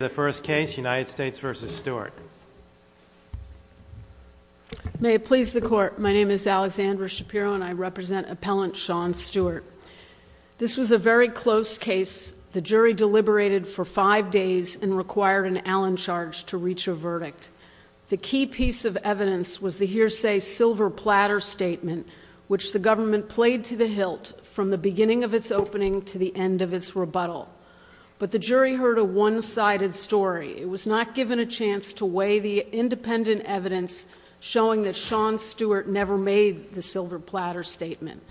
The first case, United States v. Stewart. May it please the court, my name is Alexandra Shapiro and I represent appellant Sean Stewart. This was a very close case. The jury deliberated for five days and required an Allen charge to reach a verdict. The key piece of evidence was the hearsay silver platter statement, which the government played to the hilt from the story. It was not given a chance to weigh the independent evidence showing that Sean Stewart never made the silver platter statement.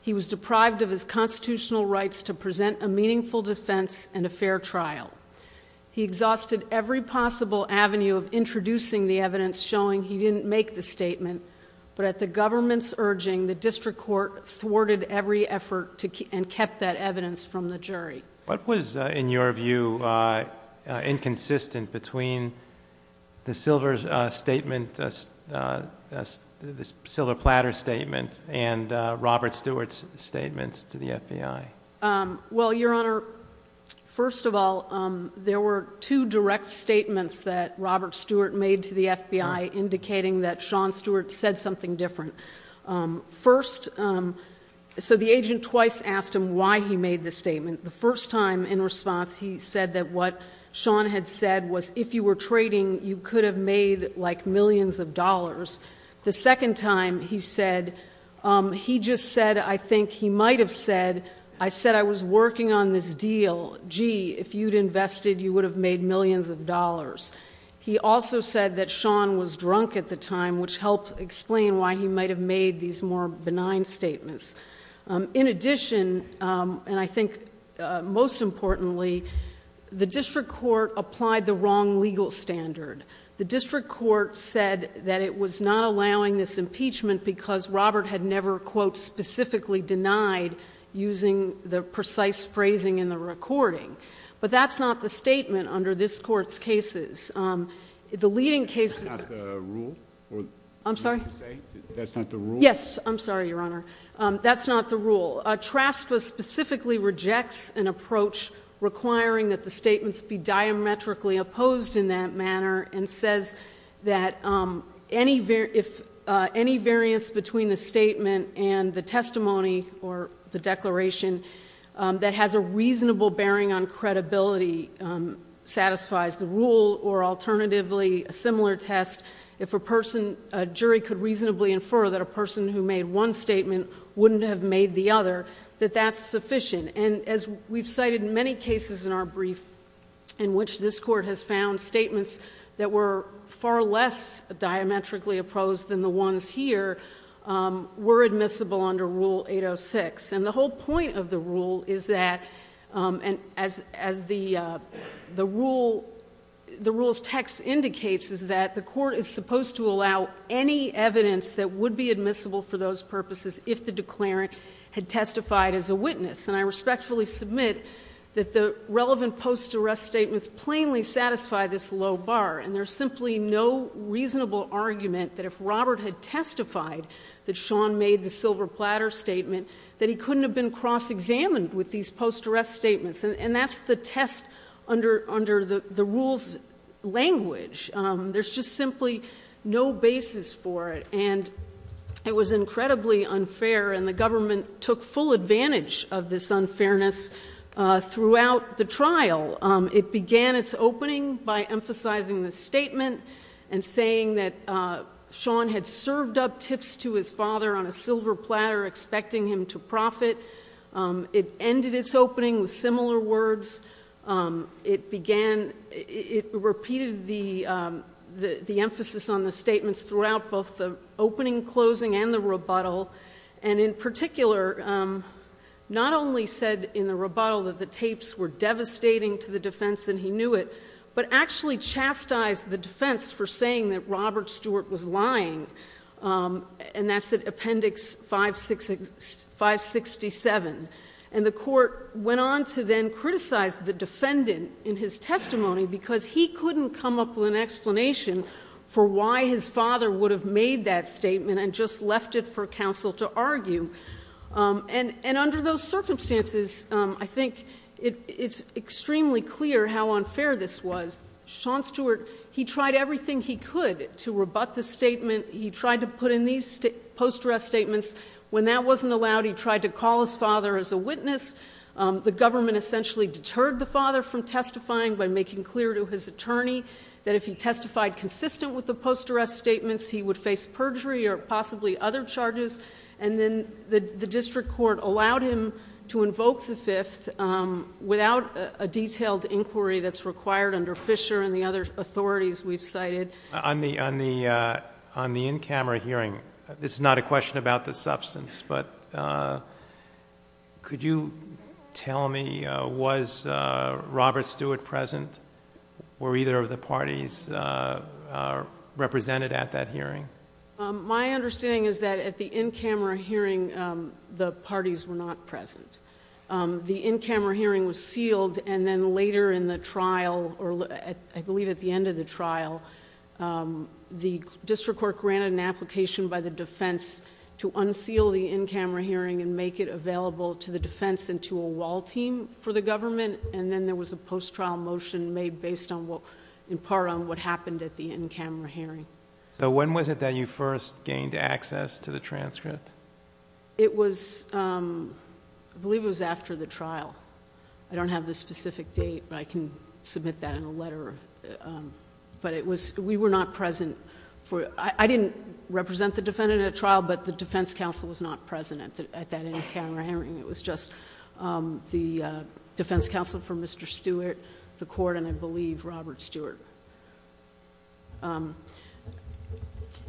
He was deprived of his constitutional rights to present a meaningful defense and a fair trial. He exhausted every possible avenue of introducing the evidence showing he didn't make the statement, but at the government's urging, the district court thwarted every effort and kept that evidence from the jury. What was, in your view, inconsistent between the silver platter statement and Robert Stewart's statements to the FBI? Well, Your Honor, first of all, there were two direct statements that Robert Stewart made to the FBI indicating that Sean Stewart said something different. First, so the agent twice asked him why he made the statement. The first time, in response, he said that what Sean had said was, if you were trading, you could have made, like, millions of dollars. The second time, he said, he just said, I think he might have said, I said I was working on this deal. Gee, if you'd invested, you would have made millions of dollars. He also said that Sean was drunk at the time, which helped explain why he might have made these more benign statements. In addition, and I think most importantly, the district court applied the wrong legal standard. The district court said that it was not allowing this impeachment because Robert had never, quote, specifically denied, using the precise cases. The leading cases... I'm sorry? Yes, I'm sorry, Your Honor. That's not the rule. TRASPA specifically rejects an approach requiring that the statements be diametrically opposed in that manner and says that any variance between the statement and the testimony or the declaration that has a reasonable bearing on credibility satisfies the rule, or alternatively, a similar test, if a person, a jury could reasonably infer that a person who made one statement wouldn't have made the other, that that's sufficient. And as we've cited in many cases in our brief in which this court has found statements that were far less diametrically opposed than the ones here, were admissible under Rule 806. And the whole point of the rule is that, as the rule's text indicates, is that the court is supposed to allow any evidence that would be admissible for those purposes if the declarant had testified as a witness. And I respectfully submit that the relevant post-arrest statements plainly satisfy this low bar. And there's simply no reasonable argument that if Robert had testified that Sean made the silver platter statement, that he couldn't have been cross-examined with these post-arrest statements. And that's the test under the rule's language. There's just simply no basis for it. And it was incredibly unfair, and the government took full advantage of this by emphasizing the statement and saying that Sean had served up tips to his father on a silver platter, expecting him to profit. It ended its opening with similar words. It began, it repeated the emphasis on the statements throughout both the opening and closing and the rebuttal. And in particular, not only said in the rebuttal that the tapes were devastating to the defense and he knew it, but actually chastised the defense for saying that Robert Stewart was lying, and that's at Appendix 567. And the court went on to then criticize the defendant in his testimony because he couldn't come up with an explanation for why his father would have made that statement. And under those circumstances, I think it's extremely clear how unfair this was. Sean Stewart, he tried everything he could to rebut the statement. He tried to put in these post-arrest statements. When that wasn't allowed, he tried to call his father as a witness. The government essentially deterred the father from testifying by making clear to his attorney that if he testified consistent with the post-arrest statements, he would face perjury or possibly other charges. And then the district court allowed him to invoke the Fifth without a detailed inquiry that's required under Fisher and the other authorities we've cited. On the in-camera hearing, this is not a question about the substance, but could you tell me, was the district court represented at that hearing? My understanding is that at the in-camera hearing, the parties were not present. The in-camera hearing was sealed, and then later in the trial, or I believe at the end of the trial, the district court granted an application by the defense to unseal the in-camera hearing and make it available to the defense and to a wall team for the government, and then there was a post-trial motion made based in part on what happened at the in-camera hearing. When was it that you first gained access to the transcript? I believe it was after the trial. I don't have the specific date, but I can submit that in a letter. We were not present. I didn't represent the defendant at trial, but the defense counsel was not present at that in-camera hearing. It was just the defense counsel for Mr. Stewart, the court, and I believe Robert Stewart.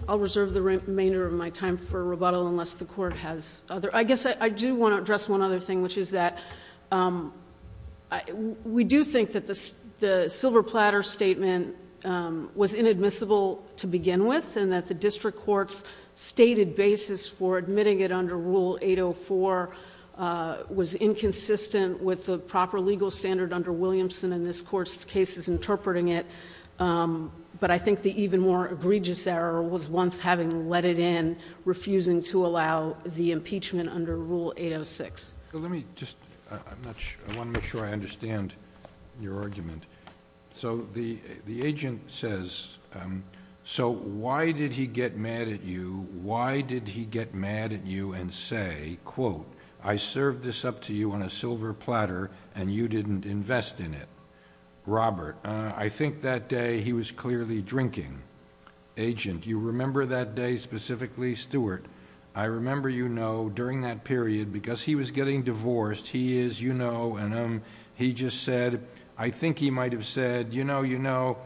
I'll reserve the remainder of my time for rebuttal unless the Court has other... I guess I do want to address one other thing, which is that we do think that the silver platter statement was inadmissible to begin with, and that the district court's stated basis for admitting it under Rule 804 was inconsistent with the proper legal standard under Williamson and this Court's cases interpreting it, but I think the even more egregious error was once having let it in, refusing to allow the impeachment under Rule 806. Let me just... I want to make sure I understand your argument. The agent says, so why did he get mad at you? Why did he get mad at you and say, quote, I served this up to you on a silver platter and you didn't invest in it? Robert, I think that day he was clearly drinking. Agent, do you remember that day specifically? Stewart, I remember you know, during that period, because he was getting divorced, he is, you know, and he just said... I think he might have said, you know, you know,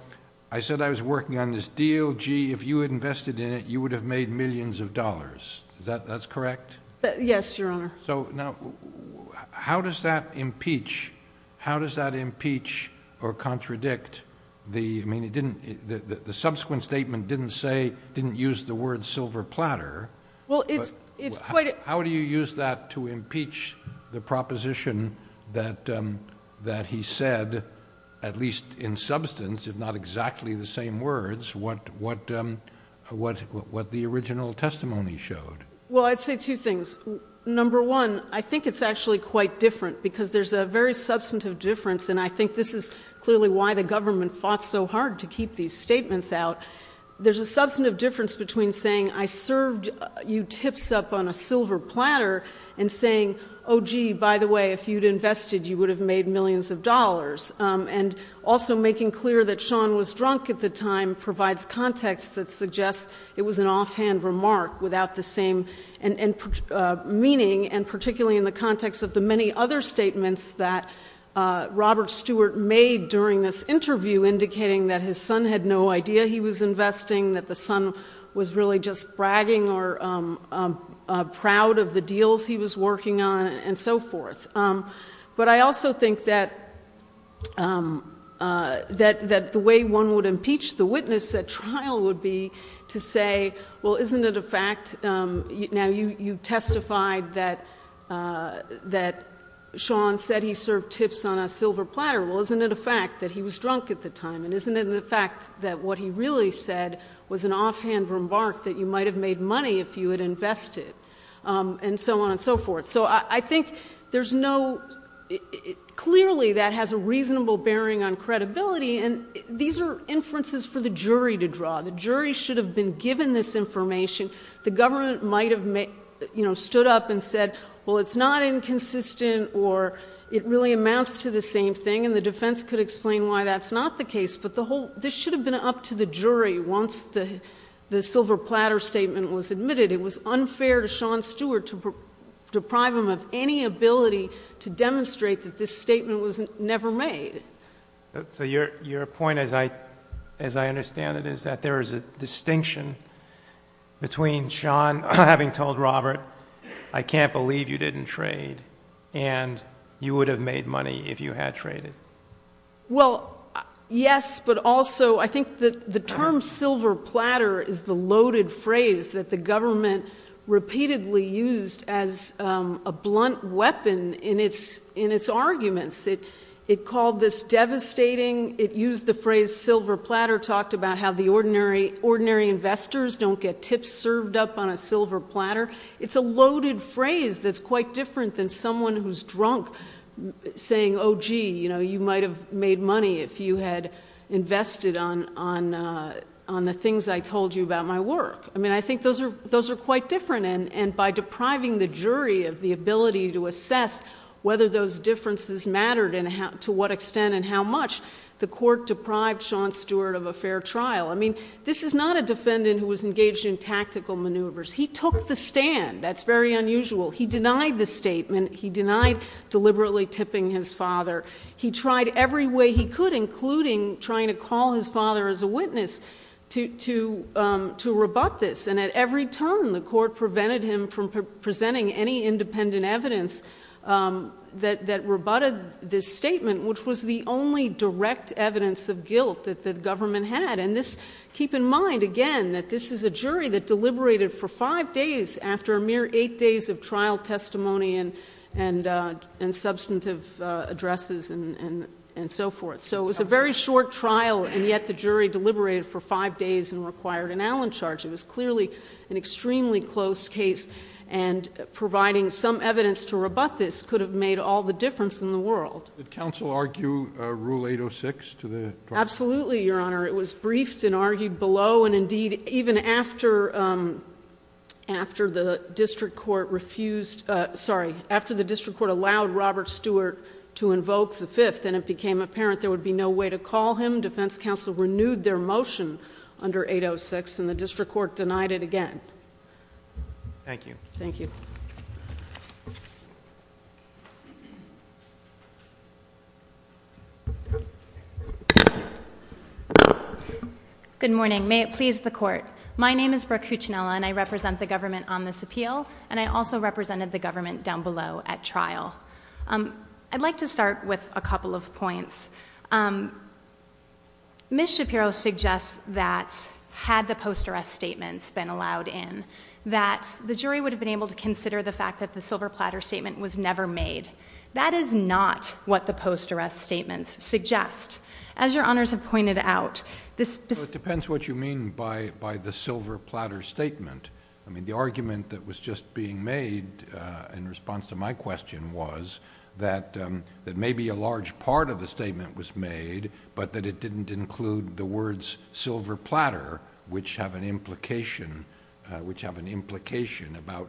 I said I was working on this deal. Gee, if you had invested in it, you would have made millions of dollars. Is that correct? Yes, Your Honor. How does that impeach or contradict the... I mean, it didn't... How does that seem to impeach the proposition that he said, at least in substance, if not exactly the same words, what the original testimony showed? Well, I'd say two things. Number one, I think it's actually quite different because there's a very substantive difference, and I think this is clearly why the government fought so hard to keep these statements out. There's a substantive difference between saying, I served you tips up on a silver platter and saying, oh, gee, by the way, if you'd invested, you would have made millions of dollars, and also making clear that Sean was drunk at the time provides context that suggests it was an offhand remark without the same meaning, and particularly in the context of the many other statements that Robert Stewart made during this interview indicating that his son had no idea he was investing, that the son was really just bragging or proud of the deals he was working on and so forth. But I also think that the way one would impeach the witness at trial would be to say, well, isn't it a fact... Now, you testified that Sean said he served tips on a silver platter. Well, isn't it a fact that he was drunk at the time, and isn't it a fact that what he really said was an offhand remark that you might have made money if you had invested, and so on and so forth. So I think there's no... Clearly, that has a reasonable bearing on credibility, and these are inferences for the jury to draw. The jury should have been given this information. The government might have, you know, stood up and said, well, it's not inconsistent or it really amounts to the same thing, and the defense could explain why that's not the case. But the whole... This should have been up to the jury once the silver platter statement was admitted. It was unfair to Sean Stewart to deprive him of any ability to demonstrate that this statement was never made. So your point, as I understand it, is that there is a distinction between Sean having told Robert, I can't believe you didn't trade, and you would have made money if you had traded. Well, yes, but also I think the term silver platter is the loaded phrase that the government repeatedly used as a blunt weapon in its arguments. It called this devastating. It used the phrase silver platter, talked about how the ordinary investors don't get tips served up on a silver platter. It's a loaded phrase that's quite different than someone who's drunk saying, oh, gee, you know, you might have made money if you had invested on the things I told you about my work. I mean, I think those are quite different, and by depriving the jury of the ability to assess whether those differences mattered and to what extent and how much, the court deprived Sean Stewart of a fair trial. I mean, this is not a defendant who was engaged in tactical maneuvers. He took the stand. That's very unusual. He denied the statement. He denied deliberately tipping his father. He tried every way he could, including trying to call his father as a witness to rebut this, and at every turn the court prevented him from presenting any independent evidence that rebutted this statement, which was the only direct evidence of guilt that the government had. And keep in mind, again, that this is a jury that deliberated for five days after a mere eight days of trial testimony and substantive addresses and so forth. So it was a very short trial, and yet the jury deliberated for five days and required an Allen charge. It was clearly an extremely close case, and providing some evidence to rebut this could have made all the difference in the world. Did counsel argue Rule 806 to the trial? Absolutely, Your Honor. It was briefed and argued below, and, indeed, even after the district court allowed Robert Stewart to invoke the Fifth, and it became apparent there would be no way to call him, defense counsel renewed their motion under 806, and the district court denied it again. Thank you. Good morning. May it please the Court. My name is Brooke Cuccinella, and I represent the government on this appeal, and I also represented the government down below at trial. I'd like to start with a couple of points. Ms. Shapiro suggests that, had the post-arrest statements been allowed in, that the jury would have been able to consider the fact that the silver platter statement was never made. That is not what the post-arrest statements suggest. As Your Honors have pointed out, this— Well, it depends what you mean by the silver platter statement. I mean, the argument that was just being made in response to my question was that maybe a large part of the statement was made, but that it didn't include the words silver platter, which have an implication, about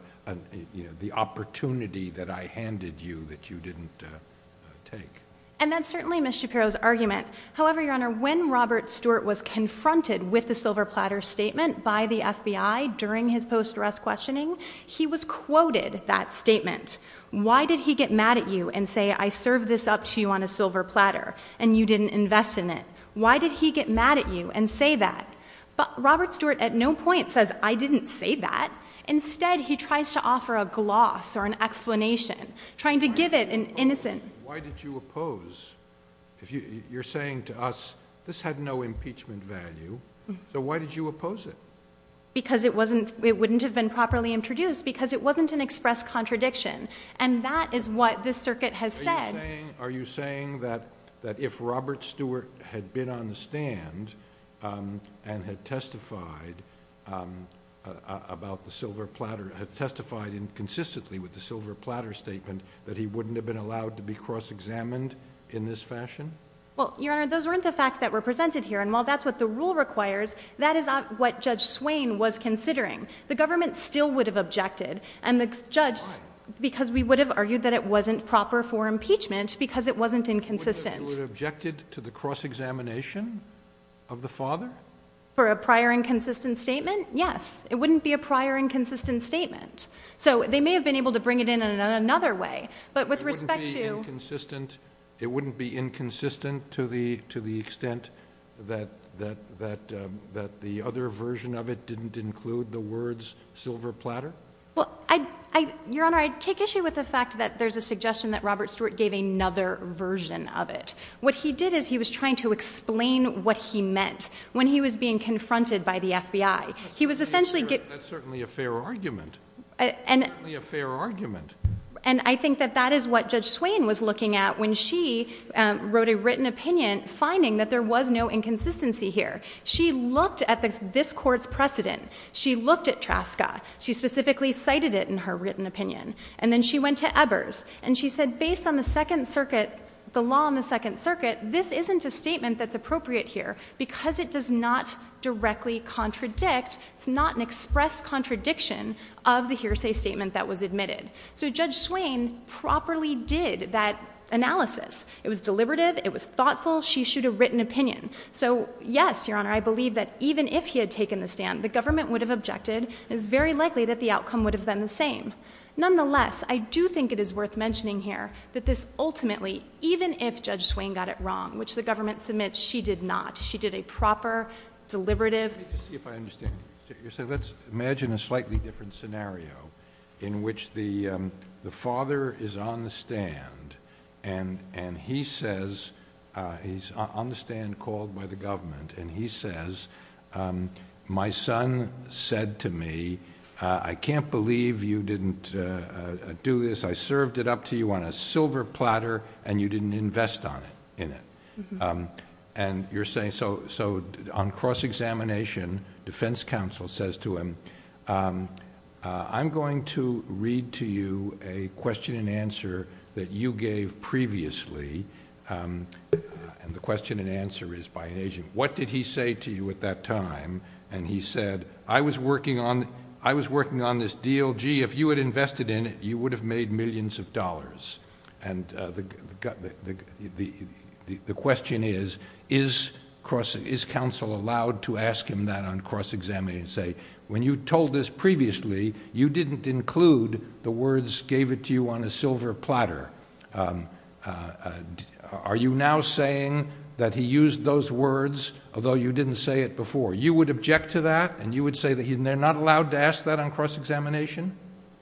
the opportunity that I handed you that you didn't take. And that's certainly Ms. Shapiro's argument. However, Your Honor, when Robert Stewart was confronted with the silver platter statement by the FBI during his post-arrest questioning, he was quoted that statement. Why did he get mad at you and say, I served this up to you on a silver platter, and you didn't invest in it? Why did he get mad at you and say that? Robert Stewart at no point says, I didn't say that. Instead, he tries to offer a gloss or an explanation, trying to give it an innocent— Why did you oppose? You're saying to us, this had no impeachment value, so why did you oppose it? Because it wouldn't have been properly introduced, because it wasn't an express contradiction. And that is what this circuit has said. Are you saying that if Robert Stewart had been on the stand and had testified about the silver platter, had testified consistently with the silver platter statement, that he wouldn't have been allowed to be cross-examined in this fashion? Well, Your Honor, those weren't the facts that were presented here. And while that's what the rule requires, that is not what Judge Swain was considering. The government still would have objected, and the judge— Why? Because we would have argued that it wasn't proper for impeachment because it wasn't inconsistent. You would have objected to the cross-examination of the father? For a prior inconsistent statement? Yes. It wouldn't be a prior inconsistent statement. So they may have been able to bring it in in another way, but with respect to— It wouldn't be inconsistent to the extent that the other version of it didn't include the words silver platter? Well, Your Honor, I take issue with the fact that there's a suggestion that Robert Stewart gave another version of it. What he did is he was trying to explain what he meant when he was being confronted by the FBI. That's certainly a fair argument. And I think that that is what Judge Swain was looking at when she wrote a written opinion finding that there was no inconsistency here. She looked at this Court's precedent. She looked at TRASCA. She specifically cited it in her written opinion. And then she went to Ebers, and she said, based on the Second Circuit, the law in the Second Circuit, this isn't a statement that's appropriate here because it does not directly contradict, it's not an express contradiction of the hearsay statement that was admitted. So Judge Swain properly did that analysis. It was deliberative. It was thoughtful. She should have written opinion. So yes, Your Honor, I believe that even if he had taken the stand, the government would have objected, and it's very likely that the outcome would have been the same. Nonetheless, I do think it is worth mentioning here that this ultimately, even if Judge Swain got it wrong, which the government submits she did not, she did a proper, deliberative... Let's imagine a slightly different scenario in which the father is on the stand, and he says, he's on the stand called by the government, and he says, my son said to me, I can't believe you didn't do this. I served it up to you on a silver platter, and you didn't invest on it, in it. On cross-examination, defense counsel says to him, I'm going to read to you a question and answer that you gave previously, and the question and answer is by an agent. What did he say to you at that time? And he said, I was working on this deal. Gee, if you had invested in it, you would have made millions of dollars. The question is, is counsel allowed to ask him that on cross-examination, and say, when you told this previously, you didn't include the words gave it to you on a silver platter. Are you now saying that he used those words, although you didn't say it before? You would object to that, and you would say that they're not allowed to ask that on cross-examination?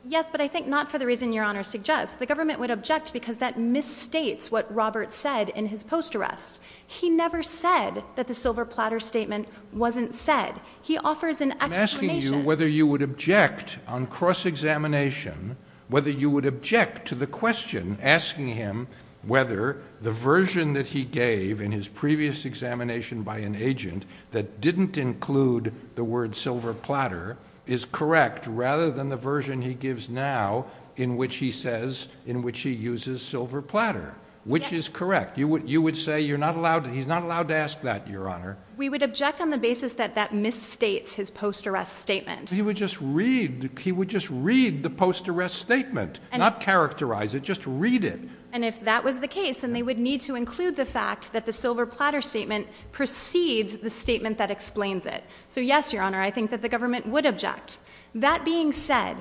Yes, but I think not for the reason your Honor suggests. The government would object because that misstates what Robert said in his post-arrest. He never said that the silver platter statement wasn't said. He offers an explanation. I'm asking you whether you would object on cross-examination, whether you would object to the question asking him whether the version that he gave in his previous examination by an agent that didn't include the word silver platter is correct, rather than the version he gives now in which he says, in which he uses silver platter, which is correct. You would say he's not allowed to ask that, your Honor. We would object on the basis that that misstates his post-arrest statement. He would just read the post-arrest statement, not characterize it, just read it. And if that was the case, then they would need to include the fact that the silver platter statement precedes the statement that explains it. So yes, your Honor, I think that the government would object. That being said,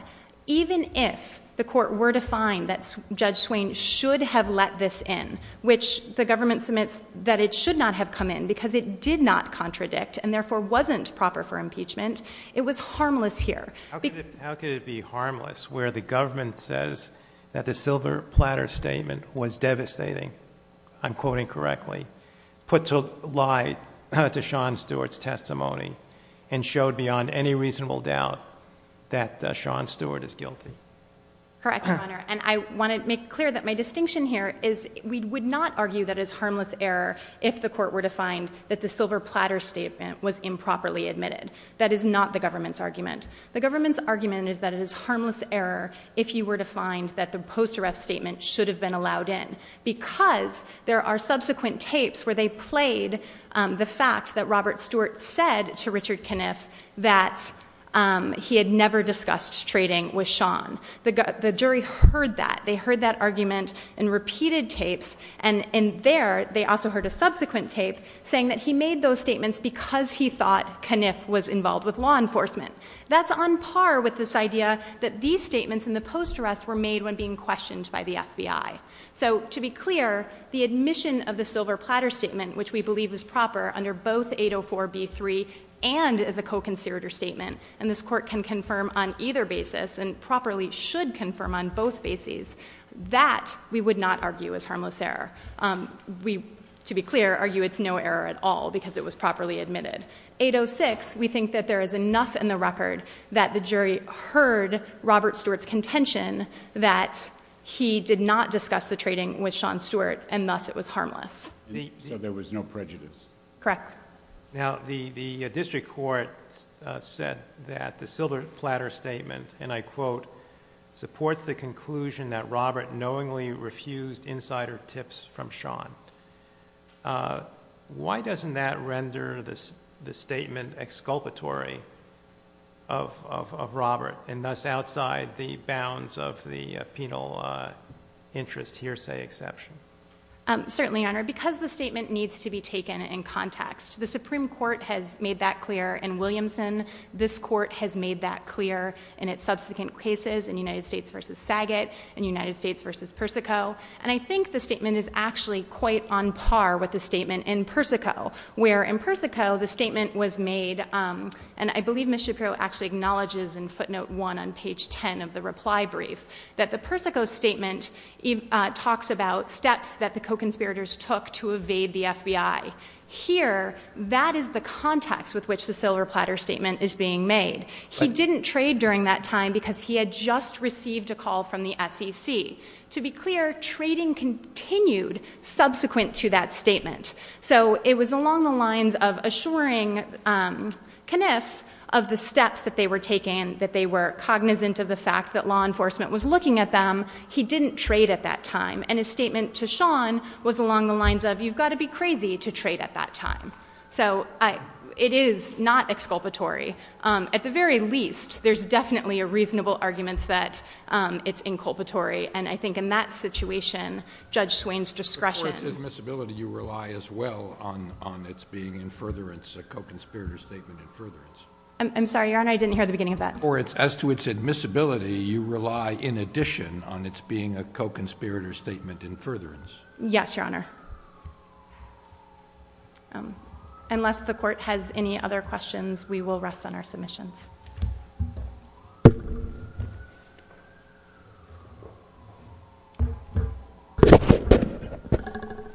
even if the court were to find that Judge Swain should have let this in, which the government submits that it should not have come in because it did not contradict and therefore wasn't proper for impeachment, it was harmless here. How could it be harmless where the government says that the silver platter statement was devastating, I'm quoting correctly, put to lie to Sean Stewart's testimony and showed beyond any reasonable doubt that Sean Stewart is guilty? Correct, your Honor. And I want to make clear that my distinction here is we would not argue that it is harmless error if the court were to find that the silver platter statement was improperly admitted. That is not the government's argument. The government's argument is that it is harmless error if you were to find that the post-arrest statement should have been allowed in because there are subsequent tapes where they played the fact that Robert Stewart said to Richard Kniff that he had never discussed trading with Sean. The jury heard that. They heard that argument in repeated tapes, and there they also heard a subsequent tape saying that he made those statements because he thought Kniff was involved with law enforcement. That's on par with this idea that these statements in the post-arrest were made when being questioned by the FBI. So to be clear, the admission of the silver platter statement, which we believe is proper under both 804b3 and as a co-conspirator statement, and this court can confirm on either basis and properly should confirm on both bases, that we would not argue is harmless error. We, to be clear, argue it's no error at all because it was properly admitted. 806, we think that there is enough in the record that the jury heard Robert Stewart's contention that he did not discuss the trading with Sean Stewart and thus it was harmless. So there was no prejudice? Correct. Now the district court said that the silver platter statement, and I quote, supports the conclusion that Robert knowingly refused insider tips from Sean. Why doesn't that render the statement exculpatory of Robert and thus outside the bounds of the penal interest hearsay exception? Certainly, Your Honor, because the statement needs to be taken in context. The Supreme Court has made that clear in Williamson. This court has made that clear in its subsequent cases, in United States v. Saget, in United States v. Persico, and I think the statement is actually quite on par with the statement in Persico, where in Persico the statement was made, and I believe Ms. Shapiro actually acknowledges in footnote 1 on page 10 of the reply brief, that the Persico statement talks about steps that the co-conspirators took to evade the FBI. Here, that is the context with which the silver platter statement is being made. He didn't trade during that time because he had just received a call from the SEC. To be clear, trading continued subsequent to that statement. So it was along the lines of assuring Kniff of the steps that they were taking, that they were cognizant of the fact that law enforcement was looking at them. He didn't trade at that time, and his statement to Sean was along the lines of, you've got to be crazy to trade at that time. So it is not exculpatory. At the very least, there's definitely a reasonable argument that it's inculpatory, and I think in that situation, Judge Swain's discretion— Or as to its admissibility, you rely as well on its being a co-conspirator statement in furtherance. I'm sorry, Your Honor, I didn't hear the beginning of that. Or as to its admissibility, you rely in addition on its being a co-conspirator statement in furtherance. Yes, Your Honor. Unless the Court has any other questions, we will rest on our submissions.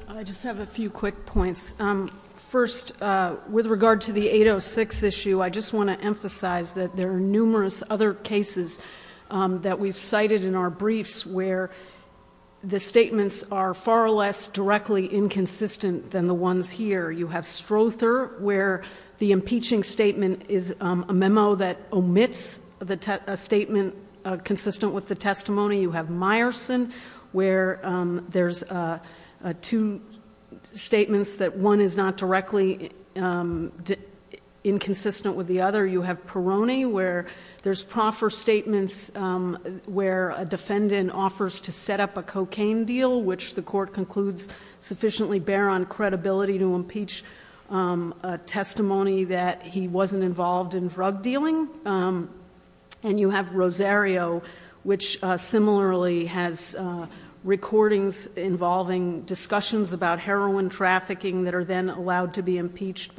I just have a few quick points. First, with regard to the 806 issue, I just want to emphasize that there are numerous other cases that we've cited in our briefs where the statements are far less directly inconsistent than the ones here. You have Strother, where the impeaching statement is a memo that omits a statement consistent with the testimony. You have Meyerson, where there's two statements that one is not directly inconsistent with the other. You have Peroni, where there's proffer statements where a defendant offers to set up a cocaine deal, which the Court concludes sufficiently bear on credibility to impeach a testimony that he wasn't involved in drug dealing. And you have Rosario, which similarly has recordings involving discussions about heroin trafficking that are then allowed to be impeached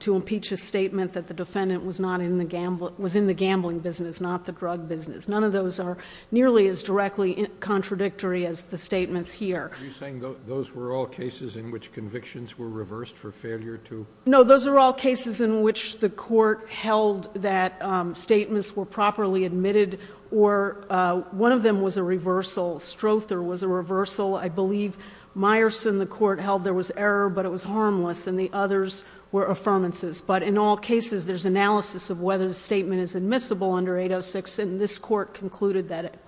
to impeach a statement that the defendant was in the gambling business, not the drug business. None of those are nearly as directly contradictory as the statements here. Are you saying those were all cases in which convictions were reversed for failure to? No, those are all cases in which the Court held that statements were properly admitted, or one of them was a reversal. Strother was a reversal. I believe Meyerson the Court held there was error, but it was harmless, and the others were affirmances. But in all cases, there's analysis of whether the statement is admissible under 806, and this Court concluded that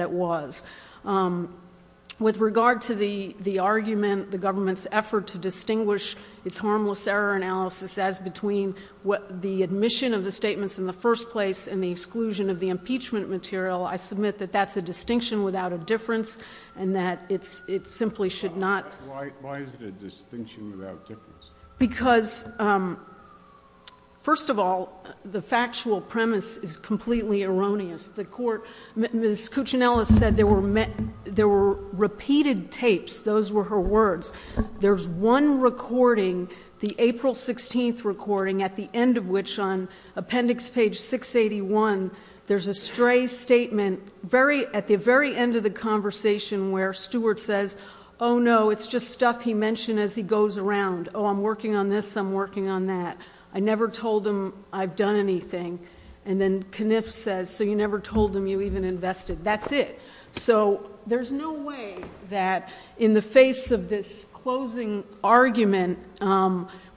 it was. With regard to the argument, the government's effort to distinguish its harmless error analysis as between the admission of the statements in the first place and the exclusion of the impeachment material, I submit that that's a distinction without a difference and that it simply should not. Why is it a distinction without a difference? Because, first of all, the factual premise is completely erroneous. Ms. Cuccinella said there were repeated tapes. Those were her words. There's one recording, the April 16th recording, at the end of which on appendix page 681, there's a stray statement at the very end of the conversation where Stewart says, oh no, it's just stuff he mentioned as he goes around. Oh, I'm working on this, I'm working on that. I never told him I've done anything. And then Kniff says, so you never told him you even invested. That's it. So there's no way that in the face of this closing argument,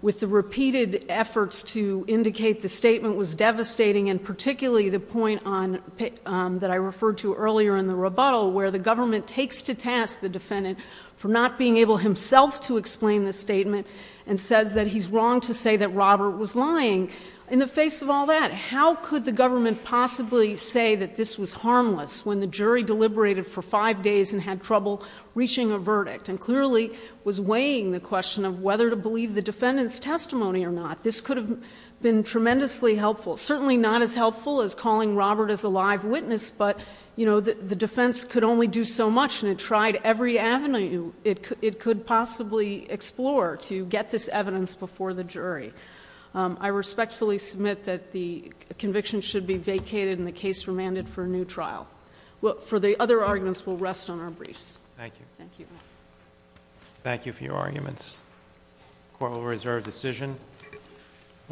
with the repeated efforts to indicate the statement was devastating, and particularly the point that I referred to earlier in the rebuttal, where the government takes to task the defendant for not being able himself to explain the statement and says that he's wrong to say that Robert was lying. In the face of all that, how could the government possibly say that this was harmless when the jury deliberated for five days and had trouble reaching a verdict and clearly was weighing the question of whether to believe the defendant's testimony or not? This could have been tremendously helpful. Certainly not as helpful as calling Robert as a live witness, but the defense could only do so much and it tried every avenue it could possibly explore to get this evidence before the jury. I respectfully submit that the conviction should be vacated and the case remanded for a new trial. For the other arguments, we'll rest on our briefs. Thank you. Thank you. Thank you for your arguments. Court will reserve decision.